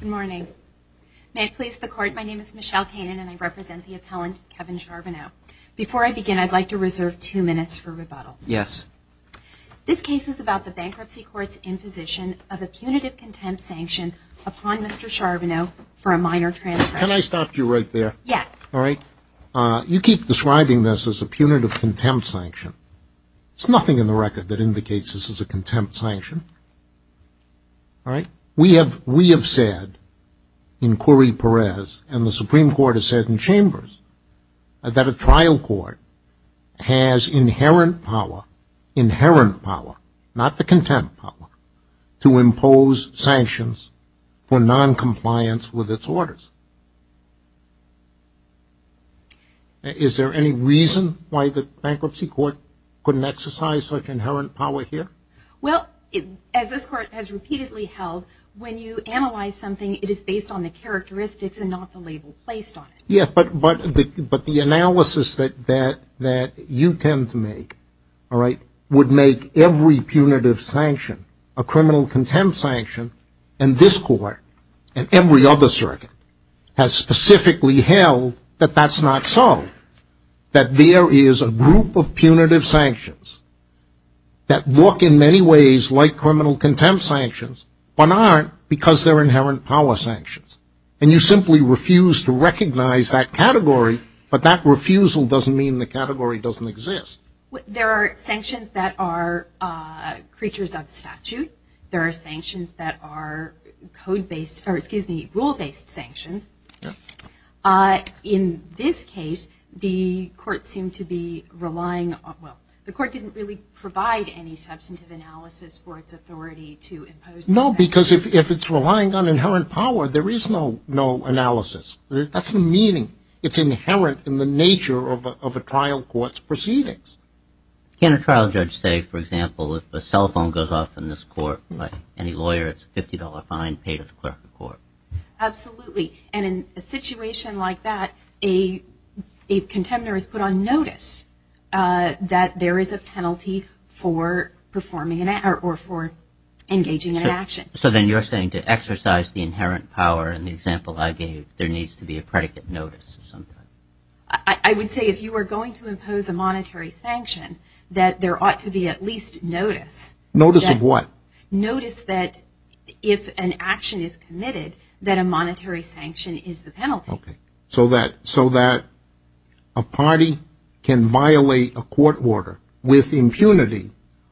Good morning. May it please the Court, my name is Michelle Kanan and I represent the This case is about the Bankruptcy Court's imposition of a punitive contempt sanction upon Mr. Charbonneau for a minor transgression. Can I stop you right there? Yes. You keep describing this as a punitive contempt sanction. There's nothing in the record that indicates this is a contempt sanction. We have said in Corey Perez and the Supreme Court has said in Chambers that a trial court has inherent power, inherent power, not the contempt power, to impose sanctions for noncompliance with its orders. Is there any reason why the Bankruptcy Court couldn't exercise such inherent power here? Well, as this Court has repeatedly held, when you analyze something, it is based on the characteristics and not the label placed on it. Yes, but the analysis that you tend to make would make every punitive sanction a criminal contempt sanction. And this Court, and every other circuit, has specifically held that that's not so. That there is a group of punitive sanctions that work in many ways like criminal contempt sanctions, but aren't because they're inherent power sanctions. And you simply refuse to recognize that category, but that refusal doesn't mean the category doesn't exist. There are sanctions that are creatures of statute. There are sanctions that are rule-based sanctions. In this case, the Court didn't really provide any substantive analysis for its authority to impose sanctions. No, because if it's relying on inherent power, there is no analysis. That's the meaning. It's inherent in the nature of a trial court's proceedings. Can a trial judge say, for example, if a cell phone goes off in this court by any lawyer, it's a $50 fine paid at the clerk of court? Absolutely. And in a situation like that, a contemptor is put on notice that there is a penalty for engaging in an action. So then you're saying to exercise the inherent power in the example I gave, there needs to be a predicate notice. I would say if you were going to impose a monetary sanction, that there ought to be at least notice. Notice of what? Notice that if an action is committed, that a monetary sanction is the penalty. Okay. So that a party can violate a court order with impunity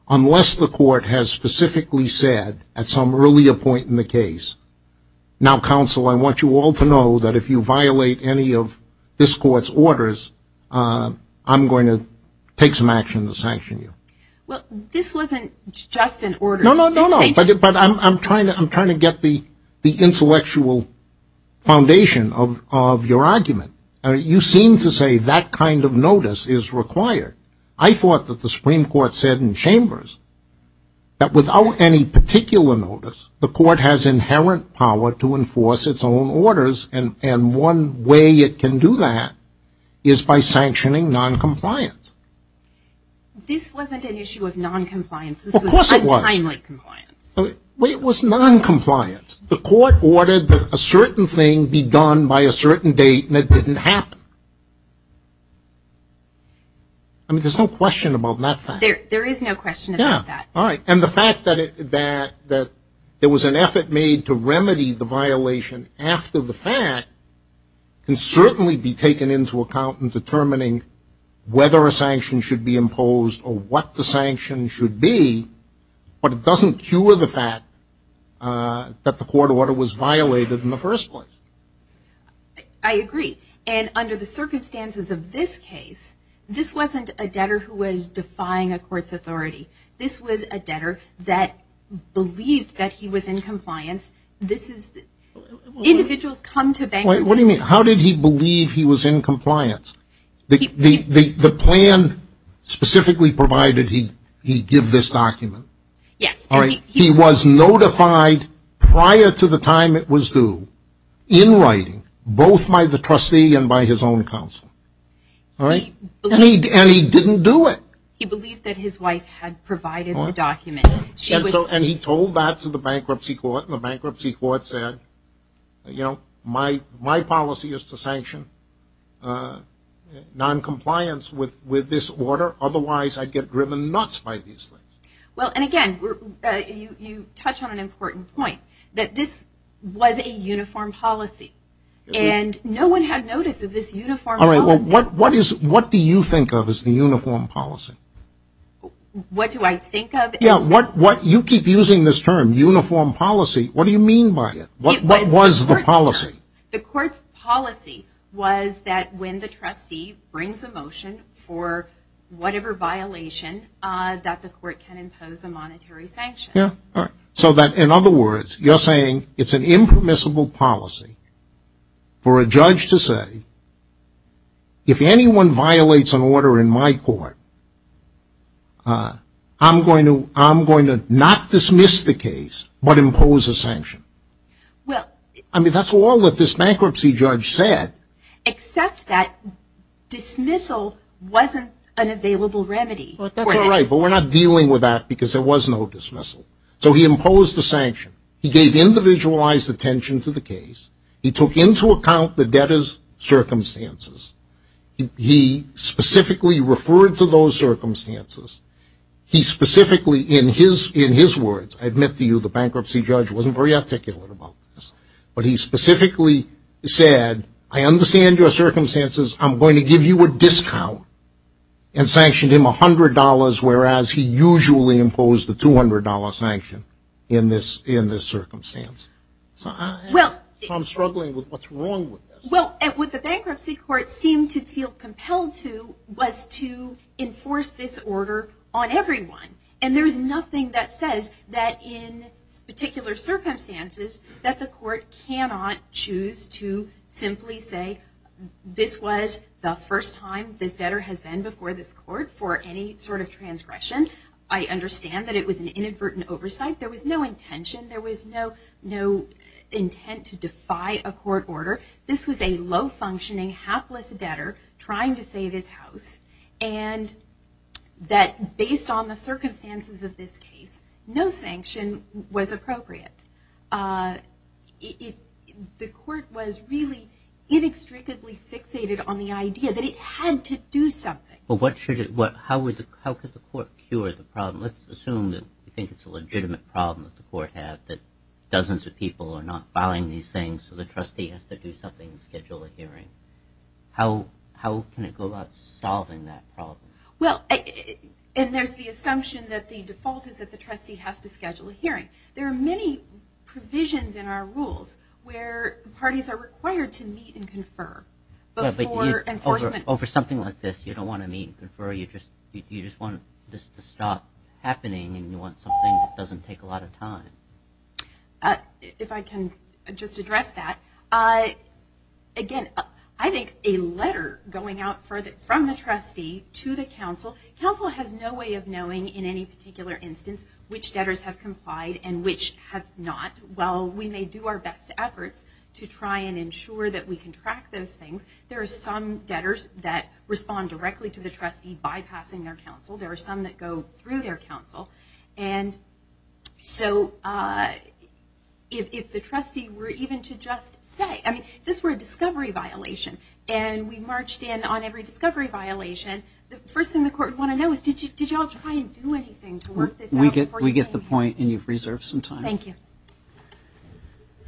unless the court has specifically said at some earlier point in the case, now, counsel, I want you all to know that if you violate any of this court's orders, I'm going to take some action to sanction you. Well, this wasn't just an order. But I'm trying to get the intellectual foundation of your argument. You seem to say that kind of notice is required. I thought that the Supreme Court said in Chambers that without any particular notice, the court has inherent power to enforce its own orders, and one way it can do that is by sanctioning noncompliance. This wasn't an issue of noncompliance. Of course it was. It was noncompliance. The court ordered that a certain thing be done by a certain date, and it didn't happen. I mean, there's no question about that fact. There is no question about that. All right. And the fact that there was an effort made to remedy the violation after the fact can certainly be taken into account in determining whether a sanction should be imposed or what the sanction should be, but it doesn't cure the fact that the court order was violated in the first place. I agree. And under the circumstances of this case, this wasn't a debtor who was defying a court's authority. This was a debtor that believed that he was in compliance. Individuals come to bankruptcy. What do you mean? How did he believe he was in compliance? The plan specifically provided he give this document. Yes. He was notified prior to the time it was due in writing, both by the trustee and by his own counsel. And he didn't do it. He believed that his wife had provided the document. And he told that to the bankruptcy court, and the bankruptcy court said, you know, my policy is to sanction noncompliance with this order, otherwise I'd get driven nuts by these things. Well, and, again, you touch on an important point, that this was a uniform policy, and no one had noticed that this uniform policy. All right. What do you think of as the uniform policy? What do I think of? You keep using this term, uniform policy. What do you mean by it? What was the policy? The court's policy was that when the trustee brings a motion for whatever violation, that the court can impose a monetary sanction. So that, in other words, you're saying it's an impermissible policy for a judge to say, if anyone violates an order in my court, I'm going to not dismiss the case, but impose a sanction. I mean, that's all that this bankruptcy judge said. Except that dismissal wasn't an available remedy. That's all right, but we're not dealing with that because there was no dismissal. So he imposed the sanction. He gave individualized attention to the case. He took into account the debtor's circumstances. He specifically referred to those circumstances. He specifically, in his words, I admit to you the bankruptcy judge wasn't very articulate about this, but he specifically said, I understand your circumstances. I'm going to give you a discount, and sanctioned him $100, whereas he usually imposed the $200 sanction in this circumstance. So I'm struggling with what's wrong with this. Well, what the bankruptcy court seemed to feel compelled to was to enforce this order on everyone. And there's nothing that says that in particular circumstances that the court cannot choose to simply say, this was the first time this debtor has been before this court for any sort of transgression. I understand that it was an inadvertent oversight. There was no intention. There was no intent to defy a court order. This was a low-functioning, hapless debtor trying to save his house, and that based on the circumstances of this case, no sanction was appropriate. The court was really inextricably fixated on the idea that it had to do something. Well, how could the court cure the problem? Let's assume that you think it's a legitimate problem that the court had, that dozens of people are not filing these things, so the trustee has to do something and schedule a hearing. How can it go about solving that problem? Well, and there's the assumption that the default is that the trustee has to schedule a hearing. There are many provisions in our rules where parties are required to meet and confer before enforcement. So over something like this, you don't want to meet and confer. You just want this to stop happening, and you want something that doesn't take a lot of time. If I can just address that. Again, I think a letter going out from the trustee to the counsel, counsel has no way of knowing in any particular instance which debtors have complied and which have not. While we may do our best efforts to try and ensure that we can track those things, there are some debtors that respond directly to the trustee bypassing their counsel. There are some that go through their counsel. And so if the trustee were even to just say, I mean, this were a discovery violation, and we marched in on every discovery violation, the first thing the court would want to know is, did you all try and do anything to work this out before you came here? We get the point, and you've reserved some time. Thank you.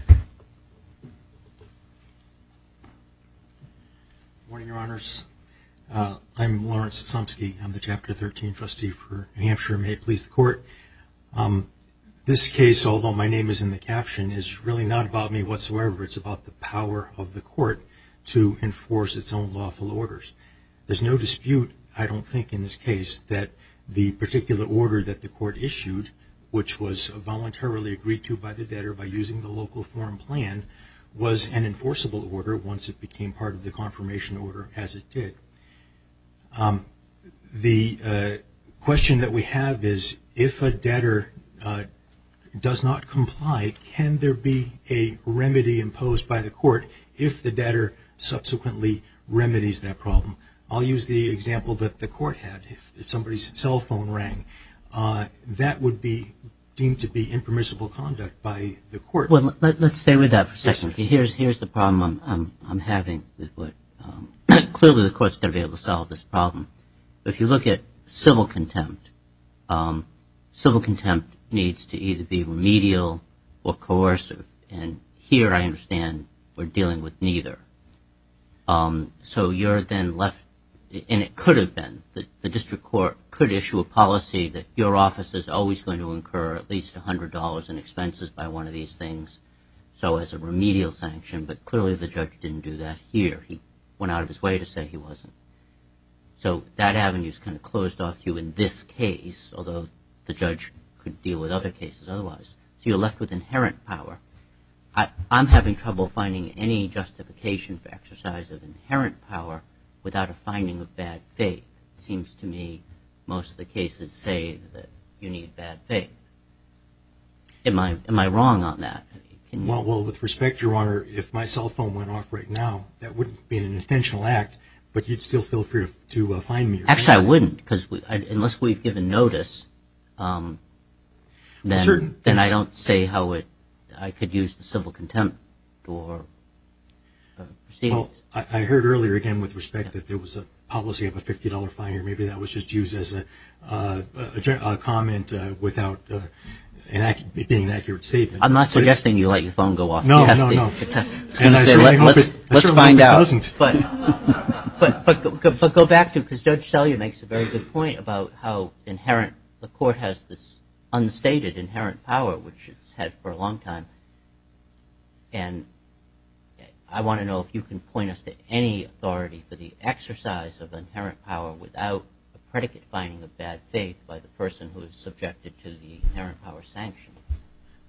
Good morning, Your Honors. I'm Lawrence Somski. I'm the Chapter 13 trustee for New Hampshire. May it please the court. This case, although my name is in the caption, is really not about me whatsoever. It's about the power of the court to enforce its own lawful orders. There's no dispute, I don't think, in this case, that the particular order that the court issued, which was voluntarily agreed to by the debtor by using the local form plan, was an enforceable order once it became part of the confirmation order, as it did. The question that we have is, if a debtor does not comply, can there be a remedy imposed by the court if the debtor subsequently remedies that problem? I'll use the example that the court had. If somebody's cell phone rang, that would be deemed to be impermissible conduct by the court. Let's stay with that for a second. Here's the problem I'm having. Clearly the court's going to be able to solve this problem. If you look at civil contempt, civil contempt needs to either be remedial or coercive, and here I understand we're dealing with neither. So you're then left, and it could have been, the district court could issue a policy that your office is always going to incur at least $100 in expenses by one of these things, so as a remedial sanction, but clearly the judge didn't do that here. He went out of his way to say he wasn't. So that avenue's kind of closed off to you in this case, although the judge could deal with other cases otherwise. So you're left with inherent power. I'm having trouble finding any justification for exercise of inherent power without a finding of bad faith. It seems to me most of the cases say that you need bad faith. Am I wrong on that? Well, with respect, Your Honor, if my cell phone went off right now, that wouldn't be an intentional act, but you'd still feel free to fine me. Actually, I wouldn't, because unless we've given notice, then I don't say how I could use the civil contempt. I heard earlier, again, with respect, that there was a policy of a $50 fine, or maybe that was just used as a comment without being an accurate statement. I'm not suggesting you let your phone go off. No, no, no. I certainly hope it doesn't. But go back to it, because Judge Selye makes a very good point about how inherent the Court has this unstated inherent power, which it's had for a long time. And I want to know if you can point us to any authority for the exercise of inherent power without a predicate finding of bad faith by the person who is subjected to the inherent power sanction.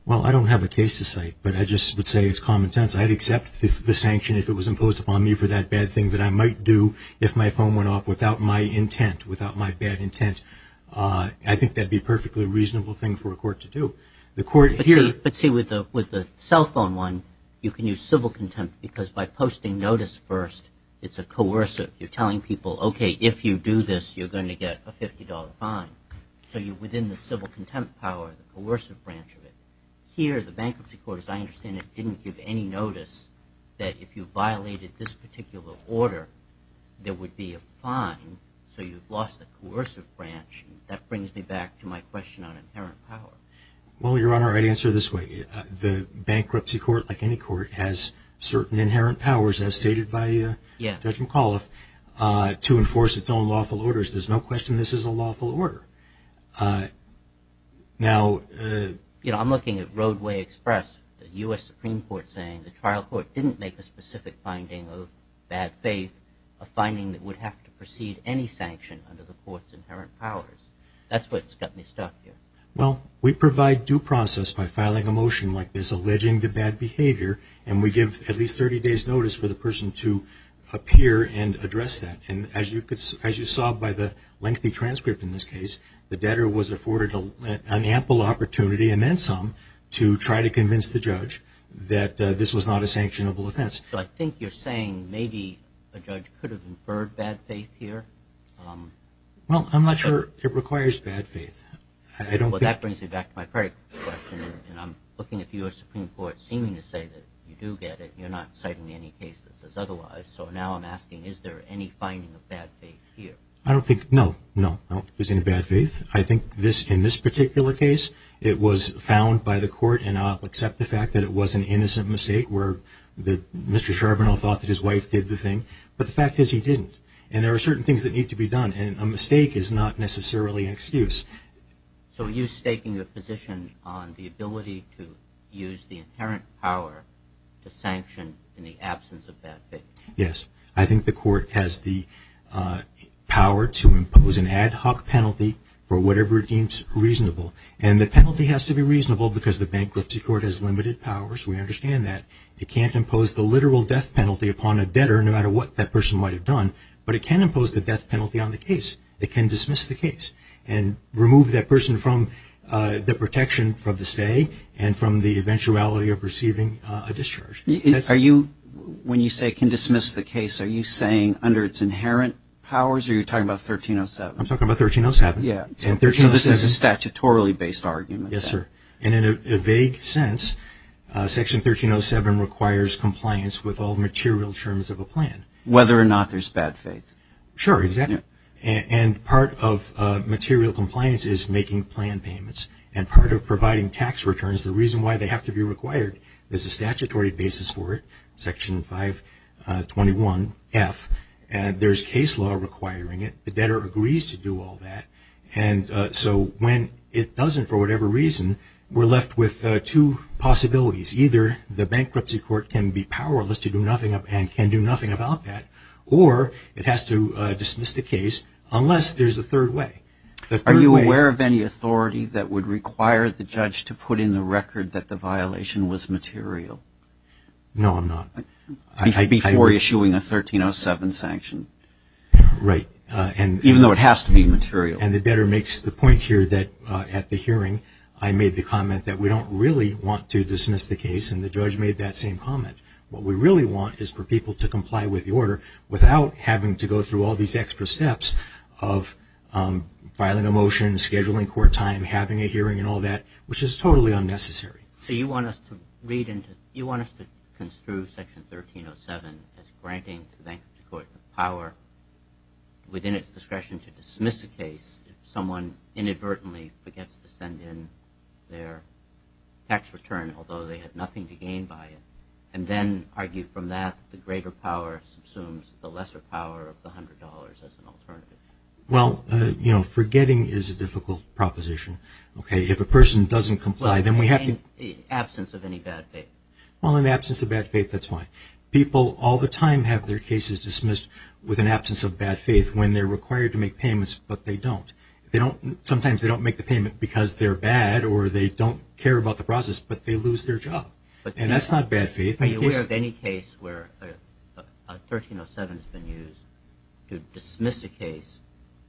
Well, I don't have a case to cite, but I just would say it's common sense. I'd accept the sanction if it was imposed upon me for that bad thing that I might do if my phone went off without my intent, without my bad intent. I think that would be a perfectly reasonable thing for a court to do. But see, with the cell phone one, you can use civil contempt, because by posting notice first, it's a coercive. You're telling people, okay, if you do this, you're going to get a $50 fine. So you're within the civil contempt power, the coercive branch of it. Here, the Bankruptcy Court, as I understand it, didn't give any notice that if you violated this particular order, there would be a fine, so you've lost the coercive branch. That brings me back to my question on inherent power. Well, Your Honor, I'd answer it this way. The Bankruptcy Court, like any court, has certain inherent powers, as stated by Judge McAuliffe, to enforce its own lawful orders. There's no question this is a lawful order. Now... You know, I'm looking at Roadway Express, the U.S. Supreme Court, saying the trial court didn't make a specific finding of bad faith, a finding that would have to precede any sanction under the court's inherent powers. That's what's got me stuck here. Well, we provide due process by filing a motion like this, alleging the bad behavior, and we give at least 30 days' notice for the person to appear and address that. And as you saw by the lengthy transcript in this case, the debtor was afforded an ample opportunity, and then some, to try to convince the judge that this was not a sanctionable offense. So I think you're saying maybe a judge could have inferred bad faith here? Well, I'm not sure it requires bad faith. I don't think... Well, that brings me back to my credit question, and I'm looking at the U.S. Supreme Court seeming to say that you do get it. You're not citing any cases as otherwise. So now I'm asking, is there any finding of bad faith here? I don't think... No, no, no, there's any bad faith. I think in this particular case it was found by the court, and I'll accept the fact that it was an innocent mistake where Mr. Charbonneau thought that his wife did the thing, but the fact is he didn't. And there are certain things that need to be done, and a mistake is not necessarily an excuse. So are you staking a position on the ability to use the inherent power to sanction in the absence of bad faith? Yes. I think the court has the power to impose an ad hoc penalty for whatever it deems reasonable, and the penalty has to be reasonable because the bankruptcy court has limited powers. We understand that. It can't impose the literal death penalty upon a debtor, no matter what that person might have done, but it can impose the death penalty on the case. It can dismiss the case and remove that person from the protection for the stay and from the eventuality of receiving a discharge. When you say it can dismiss the case, are you saying under its inherent powers, or are you talking about 1307? I'm talking about 1307. So this is a statutorily based argument. Yes, sir. And in a vague sense, Section 1307 requires compliance with all material terms of a plan. Whether or not there's bad faith. Sure, exactly. And part of material compliance is making plan payments, and part of providing tax returns, the reason why they have to be required is a statutory basis for it, Section 521F, and there's case law requiring it. The debtor agrees to do all that, and so when it doesn't for whatever reason, we're left with two possibilities. Either the bankruptcy court can be powerless to do nothing and can do nothing about that, or it has to dismiss the case unless there's a third way. Are you aware of any authority that would require the judge to put in the record that the violation was material? No, I'm not. Before issuing a 1307 sanction. Right. Even though it has to be material. And the debtor makes the point here that at the hearing, I made the comment that we don't really want to dismiss the case, and the judge made that same comment. What we really want is for people to comply with the order without having to go through all these extra steps of filing a motion, scheduling court time, having a hearing and all that, which is totally unnecessary. So you want us to read into, you want us to construe Section 1307 as granting the bankruptcy court power within its discretion to dismiss a case if someone inadvertently forgets to send in their tax return, although they have nothing to gain by it, and then argue from that the greater power subsumes the lesser power of the $100 as an alternative. Well, you know, forgetting is a difficult proposition. If a person doesn't comply, then we have to… In the absence of any bad faith. Well, in the absence of bad faith, that's fine. People all the time have their cases dismissed with an absence of bad faith when they're required to make payments, but they don't. Sometimes they don't make the payment because they're bad or they don't care about the process, but they lose their job. And that's not bad faith. Are you aware of any case where 1307 has been used to dismiss a case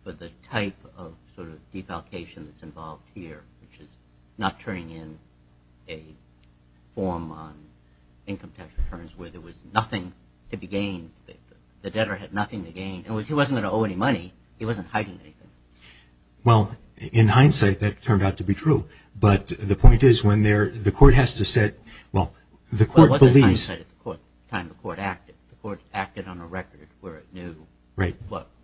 with the type of sort of defalcation that's involved here, which is not turning in a form on income tax returns where there was nothing to be gained, the debtor had nothing to gain, and he wasn't going to owe any money. He wasn't hiding anything. Well, in hindsight, that turned out to be true. But the point is when the court has to set – well, the court believes – Well, it wasn't hindsight at the time the court acted. The court acted on a record where it knew. Right.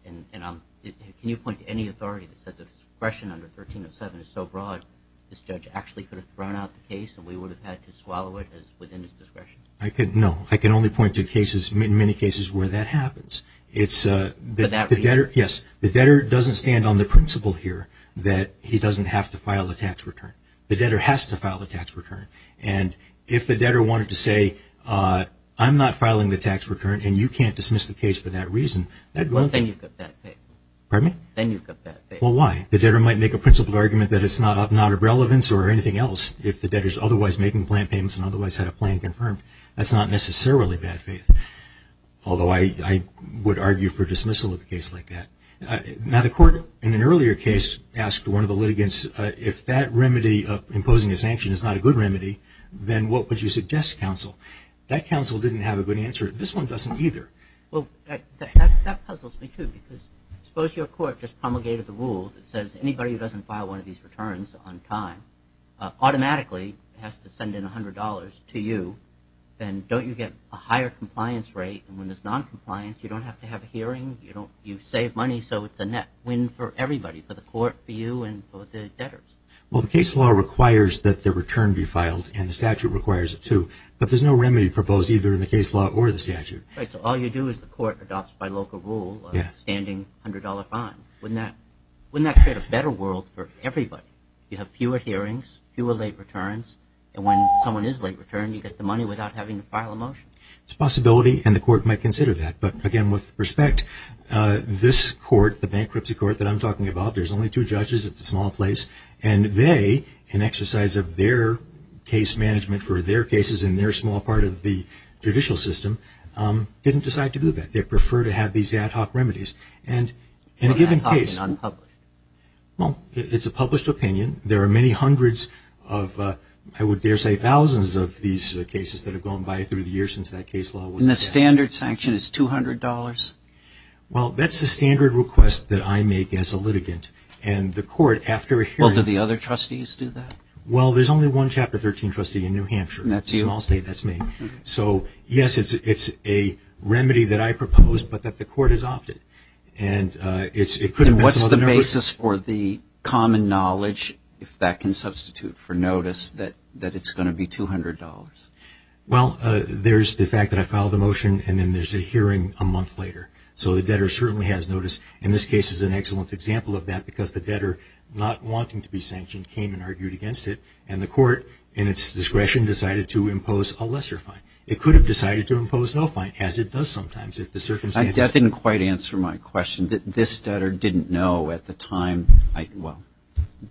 Can you point to any authority that said the discretion under 1307 is so broad this judge actually could have thrown out the case and we would have had to swallow it within his discretion? No. I can only point to cases, many cases, where that happens. For that reason? Yes. The debtor doesn't stand on the principle here that he doesn't have to file a tax return. The debtor has to file a tax return. And if the debtor wanted to say, I'm not filing the tax return and you can't dismiss the case for that reason, then you've got bad faith. Pardon me? Then you've got bad faith. Well, why? The debtor might make a principled argument that it's not of relevance or anything else if the debtor is otherwise making plan payments and otherwise had a plan confirmed. That's not necessarily bad faith, although I would argue for dismissal of a case like that. Now, the court in an earlier case asked one of the litigants, if that remedy of imposing a sanction is not a good remedy, then what would you suggest, counsel? That counsel didn't have a good answer. This one doesn't either. Well, that puzzles me, too, because suppose your court just promulgated the rule that says anybody who doesn't file one of these returns on time automatically has to send in $100 to you. Then don't you get a higher compliance rate? And when there's noncompliance, you don't have to have a hearing. You save money, so it's a net win for everybody, for the court, for you, and for the debtors. Well, the case law requires that the return be filed, and the statute requires it, too. But there's no remedy proposed either in the case law or the statute. Right, so all you do is the court adopts by local rule a standing $100 fine. Wouldn't that create a better world for everybody? You have fewer hearings, fewer late returns, and when someone is late returned, you get the money without having to file a motion. It's a possibility, and the court might consider that. But, again, with respect, this court, the bankruptcy court that I'm talking about, there's only two judges. It's a small place. And they, in exercise of their case management for their cases in their small part of the judicial system, didn't decide to do that. They prefer to have these ad hoc remedies. Well, that's talking unpublished. Well, it's a published opinion. There are many hundreds of, I would dare say, thousands of these cases that have gone by through the years since that case law was passed. And the standard sanction is $200? Well, that's the standard request that I make as a litigant. And the court, after a hearing… Well, do the other trustees do that? Well, there's only one Chapter 13 trustee in New Hampshire. That's you. It's a small state. That's me. So, yes, it's a remedy that I propose, but that the court has opted. And what's the basis for the common knowledge, if that can substitute for notice, that it's going to be $200? Well, there's the fact that I filed a motion, and then there's a hearing a month later. So the debtor certainly has notice. And this case is an excellent example of that because the debtor, not wanting to be sanctioned, came and argued against it. And the court, in its discretion, decided to impose a lesser fine. It could have decided to impose no fine, as it does sometimes if the circumstances… That didn't quite answer my question. This debtor didn't know at the time, well,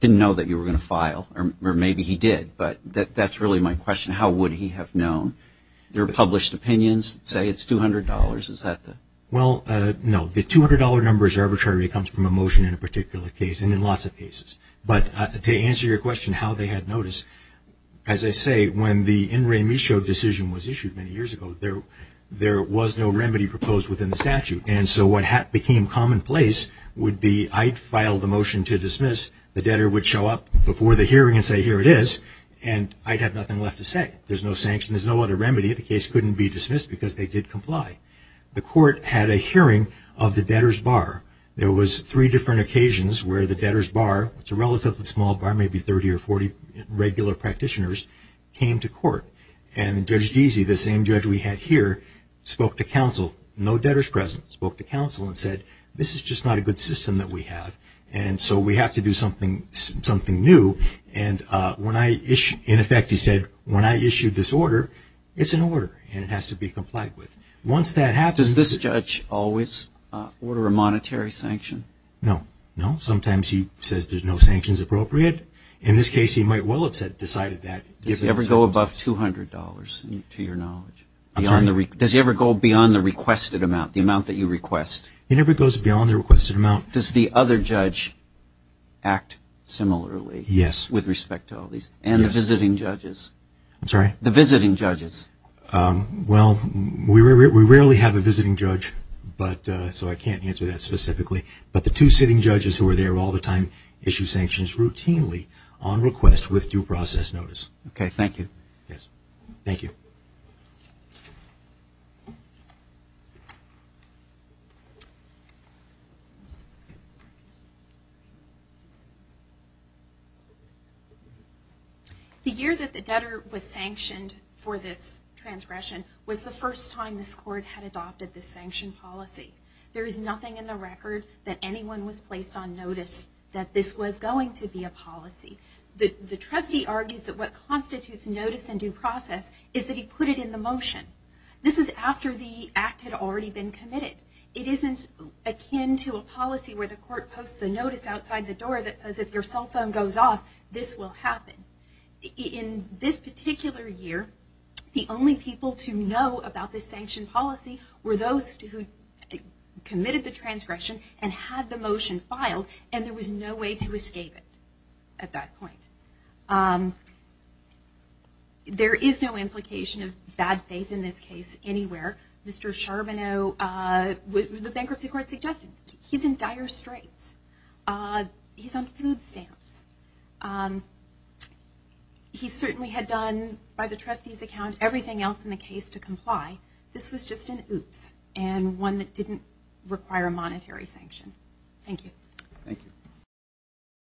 didn't know that you were going to file, or maybe he did. But that's really my question. How would he have known? There are published opinions that say it's $200. Is that the… Well, no. The $200 number is arbitrary. It comes from a motion in a particular case, and in lots of cases. But to answer your question, how they had notice, as I say, when the N. Ray Michaud decision was issued many years ago, there was no remedy proposed within the statute. And so what became commonplace would be I'd file the motion to dismiss, the debtor would show up before the hearing and say, here it is, and I'd have nothing left to say. There's no sanction. There's no other remedy. The case couldn't be dismissed because they did comply. The court had a hearing of the debtor's bar. There was three different occasions where the debtor's bar, it's a relatively small bar, maybe 30 or 40 regular practitioners, came to court. And Judge Deasy, the same judge we had here, spoke to counsel. No debtor's present. Spoke to counsel and said, this is just not a good system that we have, and so we have to do something new. And in effect he said, when I issue this order, it's an order, and it has to be complied with. Once that happens… Does this judge always order a monetary sanction? No. No. Sometimes he says there's no sanctions appropriate. In this case, he might well have decided that. Does he ever go above $200, to your knowledge? Does he ever go beyond the requested amount, the amount that you request? He never goes beyond the requested amount. Does the other judge act similarly? Yes. With respect to all these? Yes. And the visiting judges? I'm sorry? The visiting judges. Well, we rarely have a visiting judge, so I can't answer that specifically. But the two sitting judges who are there all the time issue sanctions routinely on request with due process notice. Okay. Thank you. Yes. Thank you. The year that the debtor was sanctioned for this transgression was the first time this Court had adopted this sanction policy. There is nothing in the record that anyone was placed on notice that this was going to be a policy. The trustee argues that what constitutes notice in due process is that he put it in the motion. This is after the act had already been committed. It isn't akin to a policy where the Court posts a notice outside the door that says if your cell phone goes off, this will happen. In this particular year, the only people to know about this sanction policy were those who committed the transgression and had the motion filed, and there was no way to escape it at that point. There is no implication of bad faith in this case anywhere. Mr. Charbonneau, the bankruptcy court suggested, he's in dire straits. He's on food stamps. He certainly had done, by the trustee's account, everything else in the case to comply. This was just an oops and one that didn't require a monetary sanction. Thank you. Thank you.